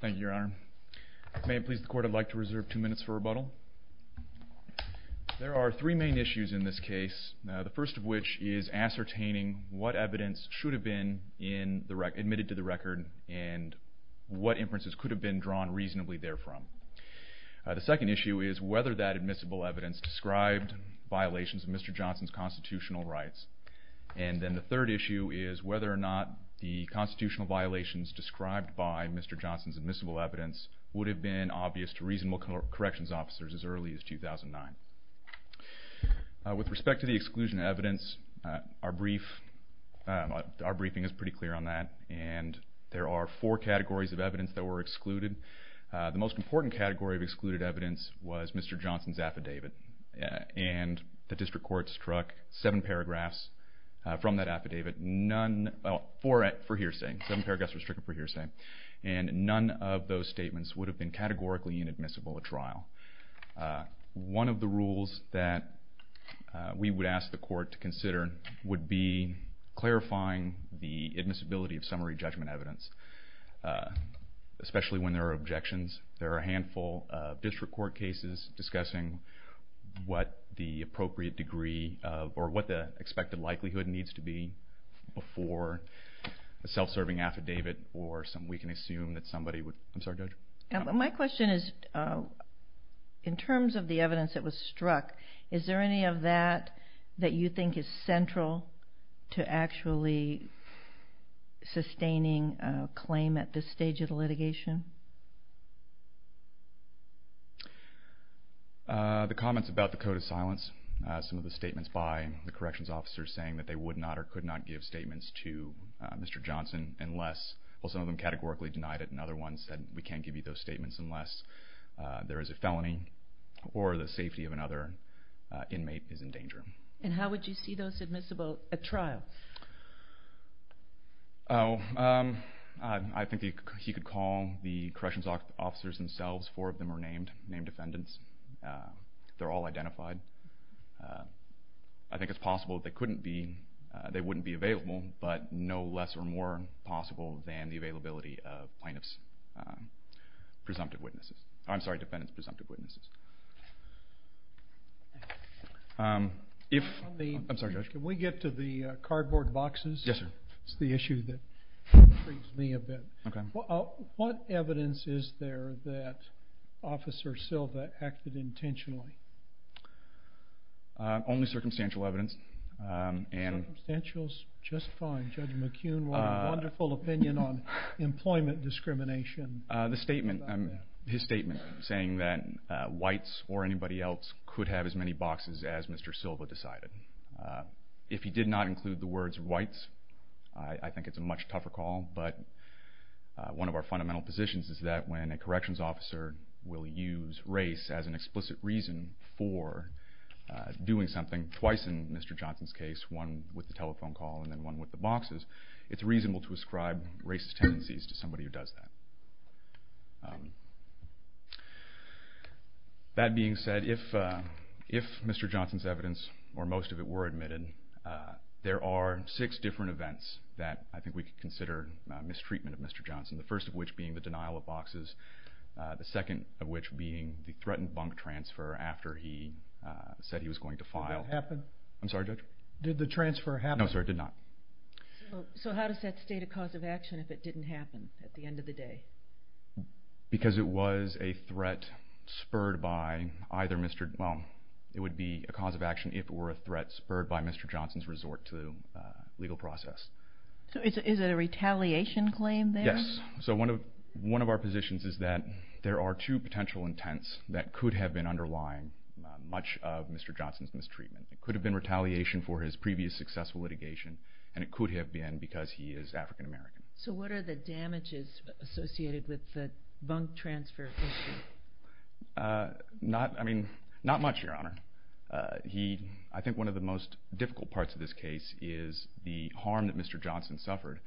Thank you your honor. May it please the court I'd like to reserve two minutes for rebuttal. There are three main issues in this case, the first of which is ascertaining what evidence should have been in the record, admitted to the record and what inferences could have been drawn reasonably there from. The second issue is whether that admissible evidence described violations of Mr. Johnson's constitutional rights. And then the third issue is whether or not the constitutional violations described by Mr. Johnson's admissible evidence would have been obvious to reasonable corrections officers as early as 2009. With respect to the exclusion of evidence, our briefing is pretty clear on that and there are four categories of evidence that were excluded. The most important category of excluded evidence was Mr. Johnson's affidavit and the district court struck seven paragraphs from that affidavit for hearsay, seven paragraphs were struck for hearsay. And none of those statements would have been categorically inadmissible at trial. One of the rules that we would ask the court to consider would be clarifying the admissibility of summary judgment evidence, especially when there are objections. There are a handful of district court cases discussing what the expected likelihood needs to be before a self-serving affidavit. My question is, in terms of the evidence that was struck, is there any of that that you think is central to actually sustaining a claim at this stage of the litigation? The comments about the code of silence, some of the statements by the corrections officers saying that they would not or could not give statements to Mr. Johnson unless, well some of them categorically denied it and other ones said we can't give you those statements unless there is a felony or the safety of another inmate is in danger. And how would you see those admissible at trial? I think he could call the corrections officers themselves, four of them are named defendants, they're all identified. I think it's possible they wouldn't be available, but no less or more possible than the availability of plaintiff's presumptive witnesses, I'm sorry, defendant's presumptive witnesses. Can we get to the cardboard boxes? Yes sir. It's the issue that freaks me a bit. Okay. What evidence is there that Officer Silva acted intentionally? Only circumstantial evidence. Circumstantial is just fine. Judge McCune, what a wonderful opinion on employment discrimination. His statement saying that whites or anybody else could have as many boxes as Mr. Silva decided. If he did not include the words whites, I think it's a much tougher call, but one of our fundamental positions is that when a corrections officer will use race as an explicit reason for doing something, twice in Mr. Johnson's case, one with the telephone call and then one with the boxes, it's reasonable to ascribe racist tendencies to somebody who does that. That being said, if Mr. Johnson's evidence or most of it were admitted, there are six different events that I think we could consider mistreatment of Mr. Johnson, the first of which being the denial of boxes, the second of which being the threatened bunk transfer after he said he was going to file. Did that happen? I'm sorry, Judge? Did the transfer happen? No sir, it did not. So how does that state a cause of action if it didn't happen at the end of the day? Because it was a threat spurred by either Mr., well, it would be a cause of action if it were a threat spurred by Mr. Johnson's resort to legal process. So is it a retaliation claim there? Yes. So one of our positions is that there are two potential intents that could have been underlying much of Mr. Johnson's mistreatment. It could have been retaliation for his previous successful litigation and it could have been because he is African American. So what are the damages associated with the bunk transfer issue? Not much, Your Honor. I think one of the most difficult parts of this case is the harm that Mr. Johnson suffered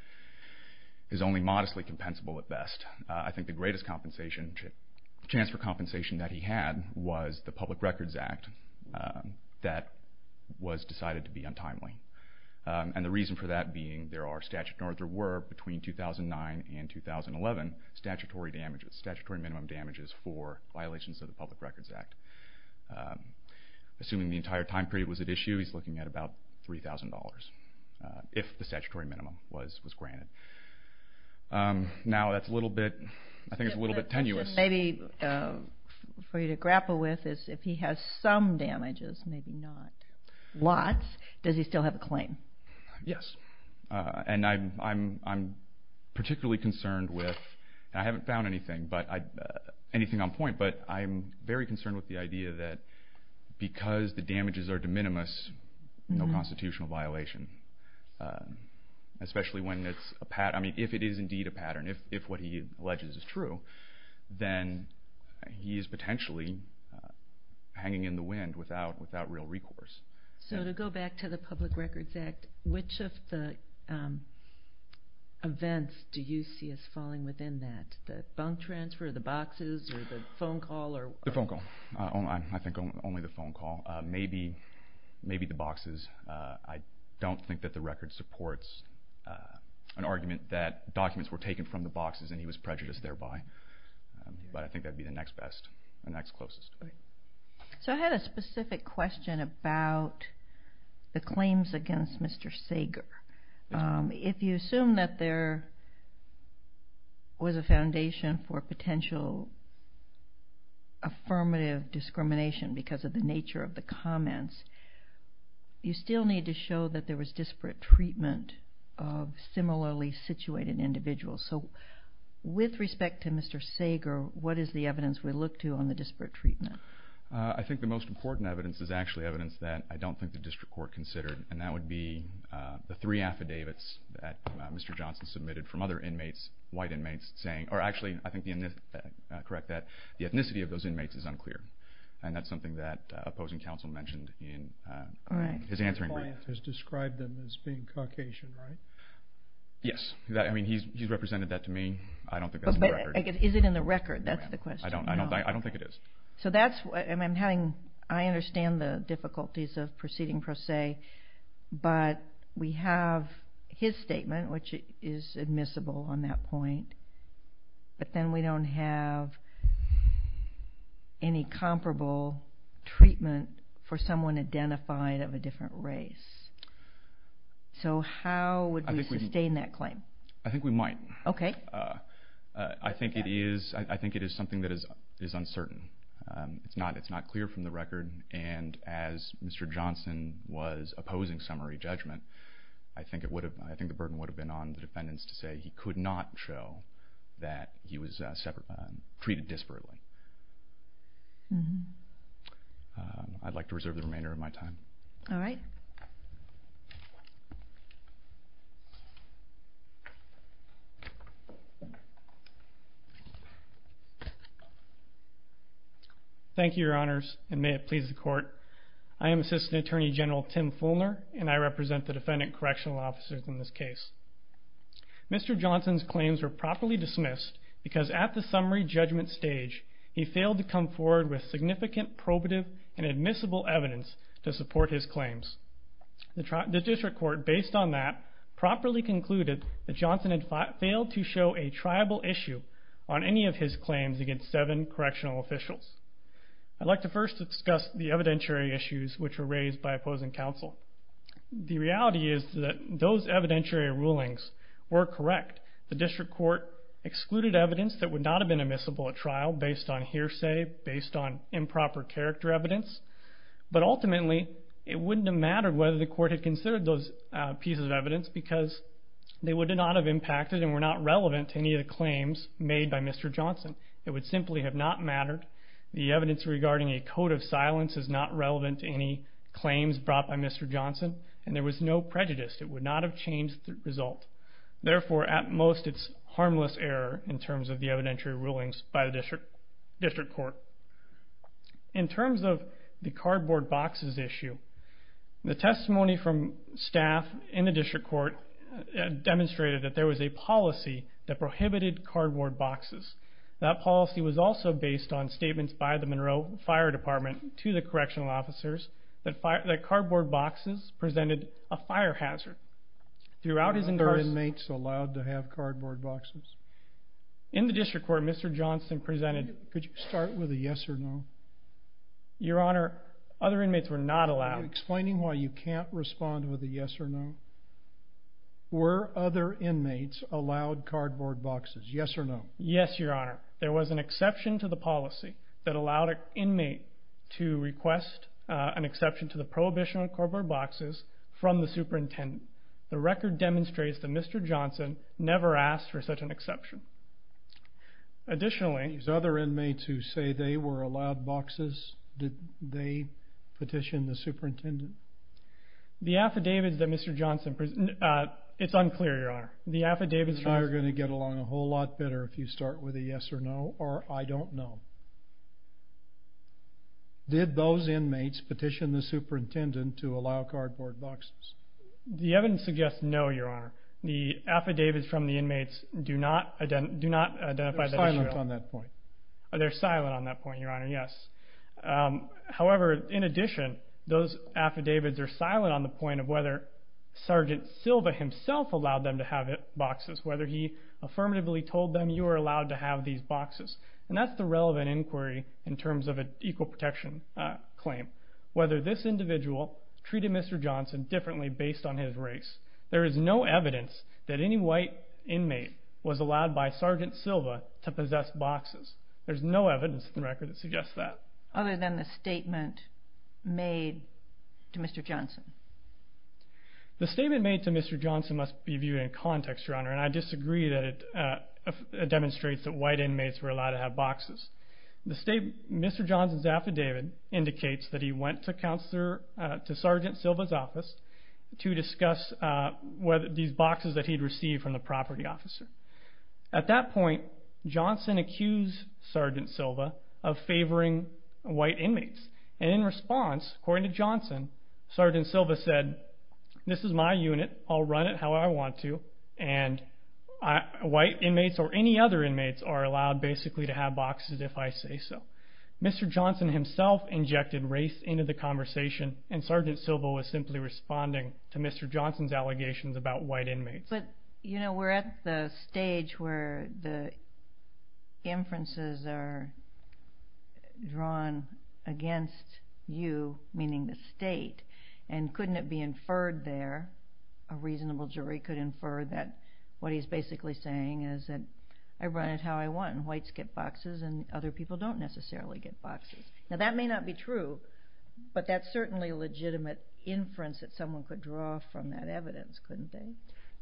is only modestly compensable at best. I think the greatest chance for compensation that he had was the Public Records Act that was decided to be untimely. And the reason for that being there were, between 2009 and 2011, statutory minimum damages for violations of the Public Records Act. Assuming the entire time period was at issue, he's looking at about $3,000 if the statutory minimum was granted. Now that's a little bit, I think it's a little bit tenuous. Maybe for you to grapple with is if he has some damages, maybe not lots, does he still have a claim? Yes. And I'm particularly concerned with, and I haven't found anything on point, but I'm very concerned with the idea that because the damages are de minimis, no constitutional violation. Especially if it is indeed a pattern, if what he alleges is true, then he is potentially hanging in the wind without real recourse. So to go back to the Public Records Act, which of the events do you see as falling within that? The bunk transfer, the boxes, or the phone call? The phone call. I think only the phone call. Maybe the boxes. I don't think that the record supports an argument that documents were taken from the boxes and he was prejudiced thereby. But I think that would be the next best, the next closest. So I had a specific question about the claims against Mr. Sager. If you assume that there was a foundation for potential affirmative discrimination because of the nature of the comments, you still need to show that there was disparate treatment of similarly situated individuals. So with respect to Mr. Sager, what is the evidence we look to on the disparate treatment? I think the most important evidence is actually evidence that I don't think the district court considered, and that would be the three affidavits that Mr. Johnson submitted from other inmates, white inmates, or actually I think the ethnicity of those inmates is unclear, and that's something that opposing counsel mentioned in his answering brief. His client has described them as being Caucasian, right? Yes. He's represented that to me. I don't think that's in the record. But is it in the record? That's the question. I don't think it is. I understand the difficulties of proceeding per se, but we have his statement, which is admissible on that point, but then we don't have any comparable treatment for someone identified of a different race. So how would we sustain that claim? I think we might. Okay. I think it is something that is uncertain. It's not clear from the record, and as Mr. Johnson was opposing summary judgment, I think the burden would have been on the defendants to say he could not show that he was treated disparately. I'd like to reserve the remainder of my time. All right. Thank you, Your Honors. And may it please the Court, I am Assistant Attorney General Tim Fulner, and I represent the defendant correctional officers in this case. Mr. Johnson's claims were properly dismissed because at the summary judgment stage, he failed to come forward with significant probative and admissible evidence to support his claims. The district court, based on that, properly concluded that Johnson had failed to show a triable issue on any of his claims against seven correctional officials. I'd like to first discuss the evidentiary issues which were raised by opposing counsel. The reality is that those evidentiary rulings were correct. The district court excluded evidence that would not have been admissible at trial based on hearsay, based on improper character evidence, but ultimately it wouldn't have mattered whether the court had considered those pieces of evidence because they would not have impacted and were not relevant to any of the claims made by Mr. Johnson. It would simply have not mattered. The evidence regarding a code of silence is not relevant to any claims brought by Mr. Johnson, and there was no prejudice. It would not have changed the result. Therefore, at most, it's harmless error in terms of the evidentiary rulings by the district court. In terms of the cardboard boxes issue, the testimony from staff in the district court demonstrated that there was a policy that prohibited cardboard boxes. That policy was also based on statements by the Monroe Fire Department to the correctional officers that cardboard boxes presented a fire hazard. Were other inmates allowed to have cardboard boxes? In the district court, Mr. Johnson presented... Could you start with a yes or no? Your Honor, other inmates were not allowed. Are you explaining why you can't respond with a yes or no? Were other inmates allowed cardboard boxes, yes or no? Yes, Your Honor. There was an exception to the policy that allowed an inmate to request an exception to the prohibition of cardboard boxes from the superintendent. The record demonstrates that Mr. Johnson never asked for such an exception. Additionally... These other inmates who say they were allowed boxes, did they petition the superintendent? The affidavits that Mr. Johnson... It's unclear, Your Honor. The affidavits from... You're going to get along a whole lot better if you start with a yes or no, or I don't know. Did those inmates petition the superintendent to allow cardboard boxes? The evidence suggests no, Your Honor. The affidavits from the inmates do not identify that issue at all. They're silent on that point. They're silent on that point, Your Honor, yes. However, in addition, those affidavits are silent on the point of whether Sergeant Silva himself allowed them to have boxes, whether he affirmatively told them you are allowed to have these boxes. That's the relevant inquiry in terms of an equal protection claim, whether this individual treated Mr. Johnson differently based on his race. There is no evidence that any white inmate was allowed by Sergeant Silva to possess boxes. There's no evidence in the record that suggests that. Other than the statement made to Mr. Johnson? The statement made to Mr. Johnson must be viewed in context, Your Honor, and I disagree that it demonstrates that white inmates were allowed to have boxes. Mr. Johnson's affidavit indicates that he went to Sergeant Silva's office to discuss these boxes that he'd received from the property officer. At that point, Johnson accused Sergeant Silva of favoring white inmates, and in response, according to Johnson, Sergeant Silva said, this is my unit, I'll run it how I want to, and white inmates or any other inmates are allowed basically to have boxes if I say so. Mr. Johnson himself injected race into the conversation, and Sergeant Silva was simply responding to Mr. Johnson's allegations about white inmates. But, you know, we're at the stage where the inferences are drawn against you, meaning the state, and couldn't it be inferred there, a reasonable jury could infer that what he's basically saying is that I run it how I want and whites get boxes and other people don't necessarily get boxes. Now, that may not be true, but that's certainly a legitimate inference that someone could draw from that evidence, couldn't they?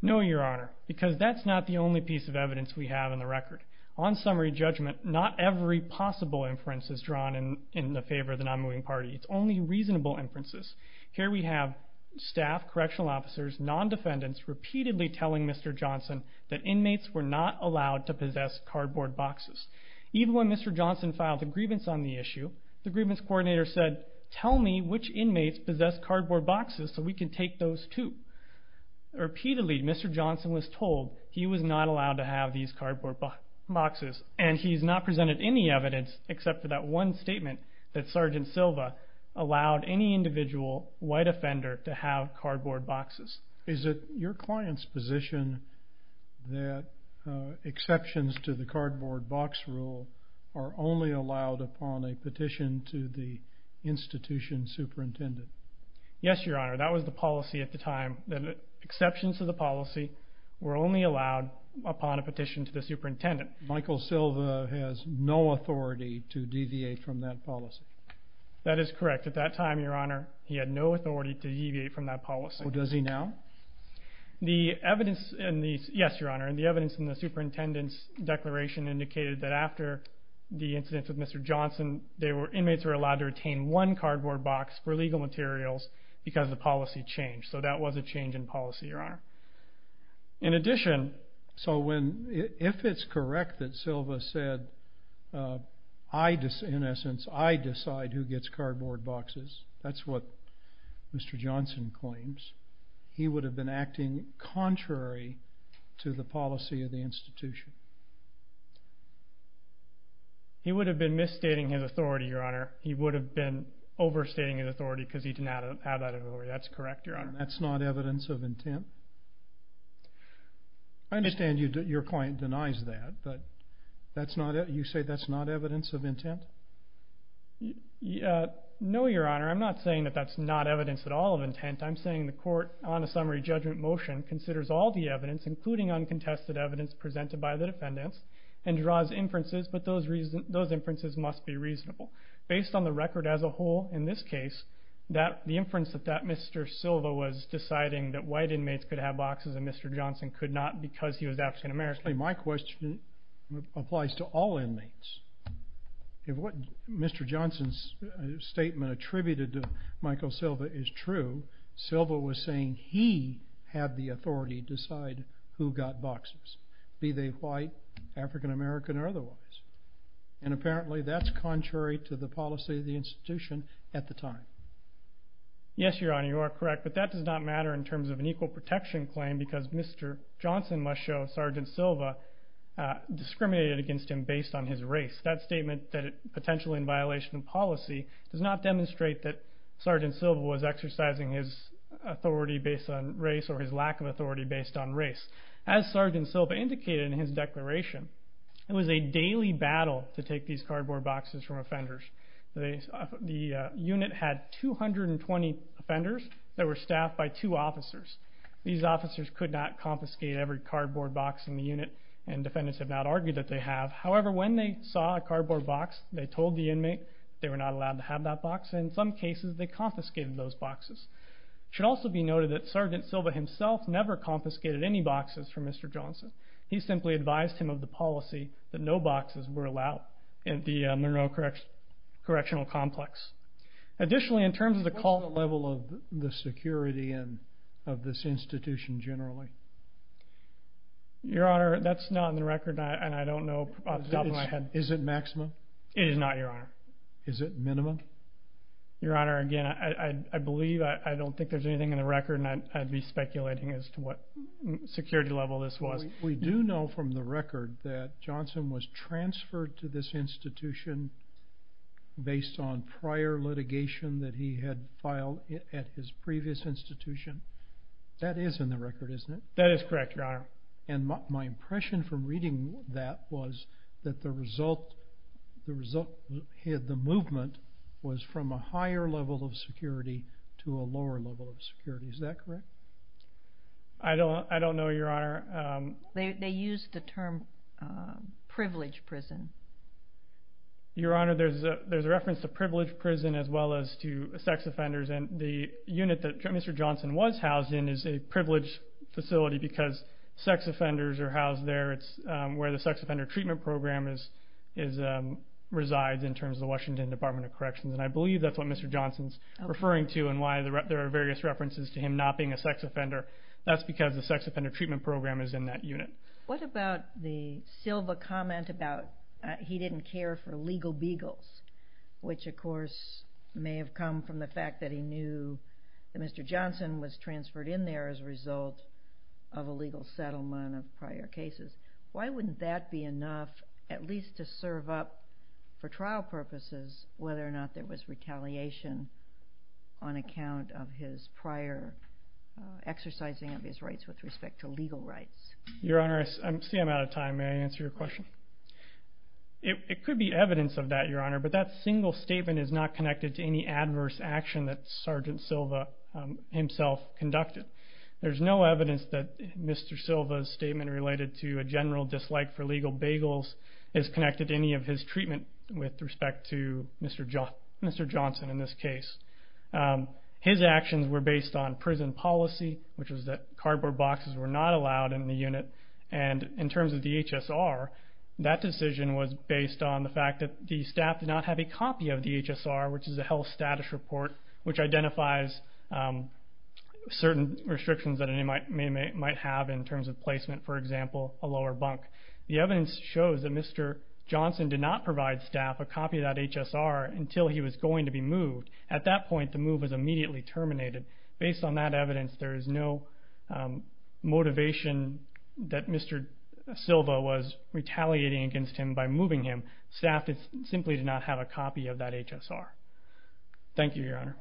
No, Your Honor, because that's not the only piece of evidence we have in the record. On summary judgment, not every possible inference is drawn in the favor of the non-moving party. It's only reasonable inferences. Here we have staff, correctional officers, non-defendants, repeatedly telling Mr. Johnson that inmates were not allowed to possess cardboard boxes. Even when Mr. Johnson filed a grievance on the issue, the grievance coordinator said, tell me which inmates possess cardboard boxes so we can take those too. Repeatedly, Mr. Johnson was told he was not allowed to have these cardboard boxes, and he's not presented any evidence except for that one statement that Sergeant Silva allowed any individual white offender to have cardboard boxes. Is it your client's position that exceptions to the cardboard box rule are only allowed upon a petition to the institution superintendent? Yes, Your Honor, that was the policy at the time, that exceptions to the policy were only allowed upon a petition to the superintendent. Michael Silva has no authority to deviate from that policy. That is correct. At that time, Your Honor, he had no authority to deviate from that policy. Does he now? Yes, Your Honor, and the evidence in the superintendent's declaration indicated that after the incident with Mr. Johnson, inmates were allowed to retain one cardboard box for legal materials because the policy changed, so that was a change in policy, Your Honor. In addition, if it's correct that Silva said, in essence, I decide who gets cardboard boxes, that's what Mr. Johnson claims, he would have been acting contrary to the policy of the institution. He would have been misstating his authority, Your Honor. He would have been overstating his authority because he didn't have that authority. That's correct, Your Honor. That's not evidence of intent? I understand your client denies that, but you say that's not evidence of intent? No, Your Honor, I'm not saying that that's not evidence at all of intent. I'm saying the court, on a summary judgment motion, considers all the evidence, including uncontested evidence presented by the defendants, and draws inferences, but those inferences must be reasonable. Based on the record as a whole, in this case, the inference that Mr. Silva was deciding that white inmates could have boxes and Mr. Johnson could not because he was African American. Actually, my question applies to all inmates. If what Mr. Johnson's statement attributed to Michael Silva is true, Silva was saying he had the authority to decide who got boxes, be they white, African American, or otherwise, and apparently that's contrary to the policy of the institution at the time. Yes, Your Honor, you are correct, but that does not matter in terms of an equal protection claim because Mr. Johnson must show Sergeant Silva discriminated against him based on his race. That statement, potentially in violation of policy, does not demonstrate that Sergeant Silva was exercising his authority based on race or his lack of authority based on race. As Sergeant Silva indicated in his declaration, it was a daily battle to take these cardboard boxes from offenders. The unit had 220 offenders that were staffed by two officers. These officers could not confiscate every cardboard box in the unit, and defendants have not argued that they have. However, when they saw a cardboard box, they told the inmate they were not allowed to have that box, and in some cases they confiscated those boxes. It should also be noted that Sergeant Silva himself never confiscated any boxes from Mr. Johnson. He simply advised him of the policy that no boxes were allowed in the Monroe Correctional Complex. Additionally, in terms of the call- What is the level of the security of this institution generally? Your Honor, that's not on the record, and I don't know off the top of my head. Is it maximum? It is not, Your Honor. Is it minimum? Your Honor, again, I believe, I don't think there's anything in the record, and I'd be speculating as to what security level this was. We do know from the record that Johnson was transferred to this institution based on prior litigation that he had filed at his previous institution. That is in the record, isn't it? That is correct, Your Honor. My impression from reading that was that the result of the movement was from a higher level of security to a lower level of security. Is that correct? I don't know, Your Honor. They used the term privileged prison. Your Honor, there's a reference to privileged prison as well as to sex offenders, and the unit that Mr. Johnson was housed in is a privileged facility because sex offenders are housed there. It's where the sex offender treatment program resides in terms of the Washington Department of Corrections, and I believe that's what Mr. Johnson's referring to and why there are various references to him not being a sex offender. That's because the sex offender treatment program is in that unit. What about the Silva comment about he didn't care for legal beagles, which, of course, may have come from the fact that he knew that Mr. Johnson was transferred in there as a result of a legal settlement of prior cases. Why wouldn't that be enough at least to serve up for trial purposes whether or not there was retaliation on account of his prior exercising of his rights with respect to legal rights? Your Honor, I see I'm out of time. May I answer your question? It could be evidence of that, Your Honor, but that single statement is not connected to any adverse action that Sergeant Silva himself conducted. There's no evidence that Mr. Silva's statement related to a general dislike for legal beagles is connected to any of his treatment with respect to Mr. Johnson in this case. His actions were based on prison policy, which was that cardboard boxes were not allowed in the unit, and in terms of the HSR, that decision was based on the fact that the staff did not have a copy of the HSR, which is a health status report which identifies certain restrictions that it might have in terms of placement, for example, a lower bunk. The evidence shows that Mr. Johnson did not provide staff a copy of that HSR until he was going to be moved. At that point, the move was immediately terminated. Based on that evidence, there is no motivation that Mr. Silva was retaliating against him by moving him. Staff simply did not have a copy of that HSR. Thank you, Your Honor.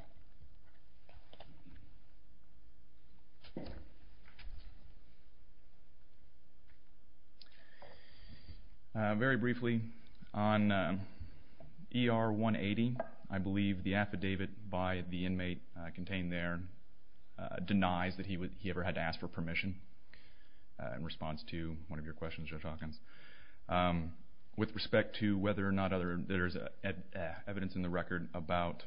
Very briefly, on ER 180, I believe the affidavit by the inmate contained there denies that he ever had to ask for permission in response to one of your questions, Judge Hawkins. With respect to whether or not there is evidence in the record about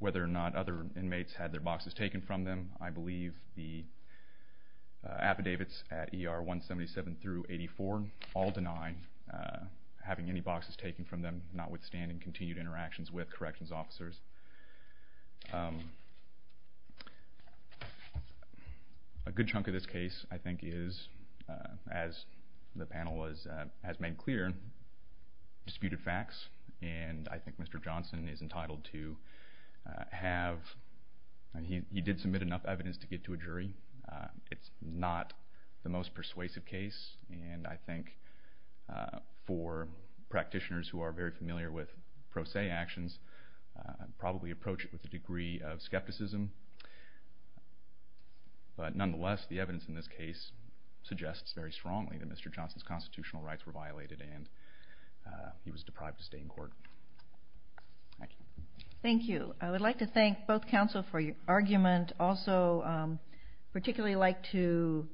whether or not other inmates had their boxes taken from them, I believe the affidavits at ER 177 through 84 all deny having any boxes taken from them, notwithstanding continued interactions with corrections officers. A good chunk of this case, I think, is, as the panel has made clear, disputed facts, and I think Mr. Johnson is entitled to have... he did submit enough evidence to get to a jury. It's not the most persuasive case, and I think for practitioners who are very familiar with pro se actions, probably approach it with a degree of skepticism. But nonetheless, the evidence in this case suggests very strongly that Mr. Johnson's constitutional rights were violated and he was deprived to stay in court. Thank you. Thank you. I would like to thank both counsel for your argument. Also, I'd particularly like to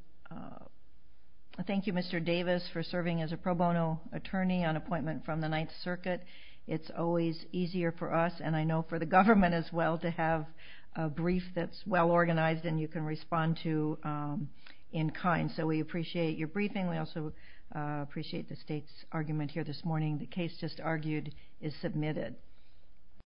thank you, Mr. Davis, for serving as a pro bono attorney on appointment from the Ninth Circuit. It's always easier for us, and I know for the government as well, to have a brief that's well organized and you can respond to in kind. So we appreciate your briefing. We also appreciate the state's argument here this morning. The case just argued is submitted.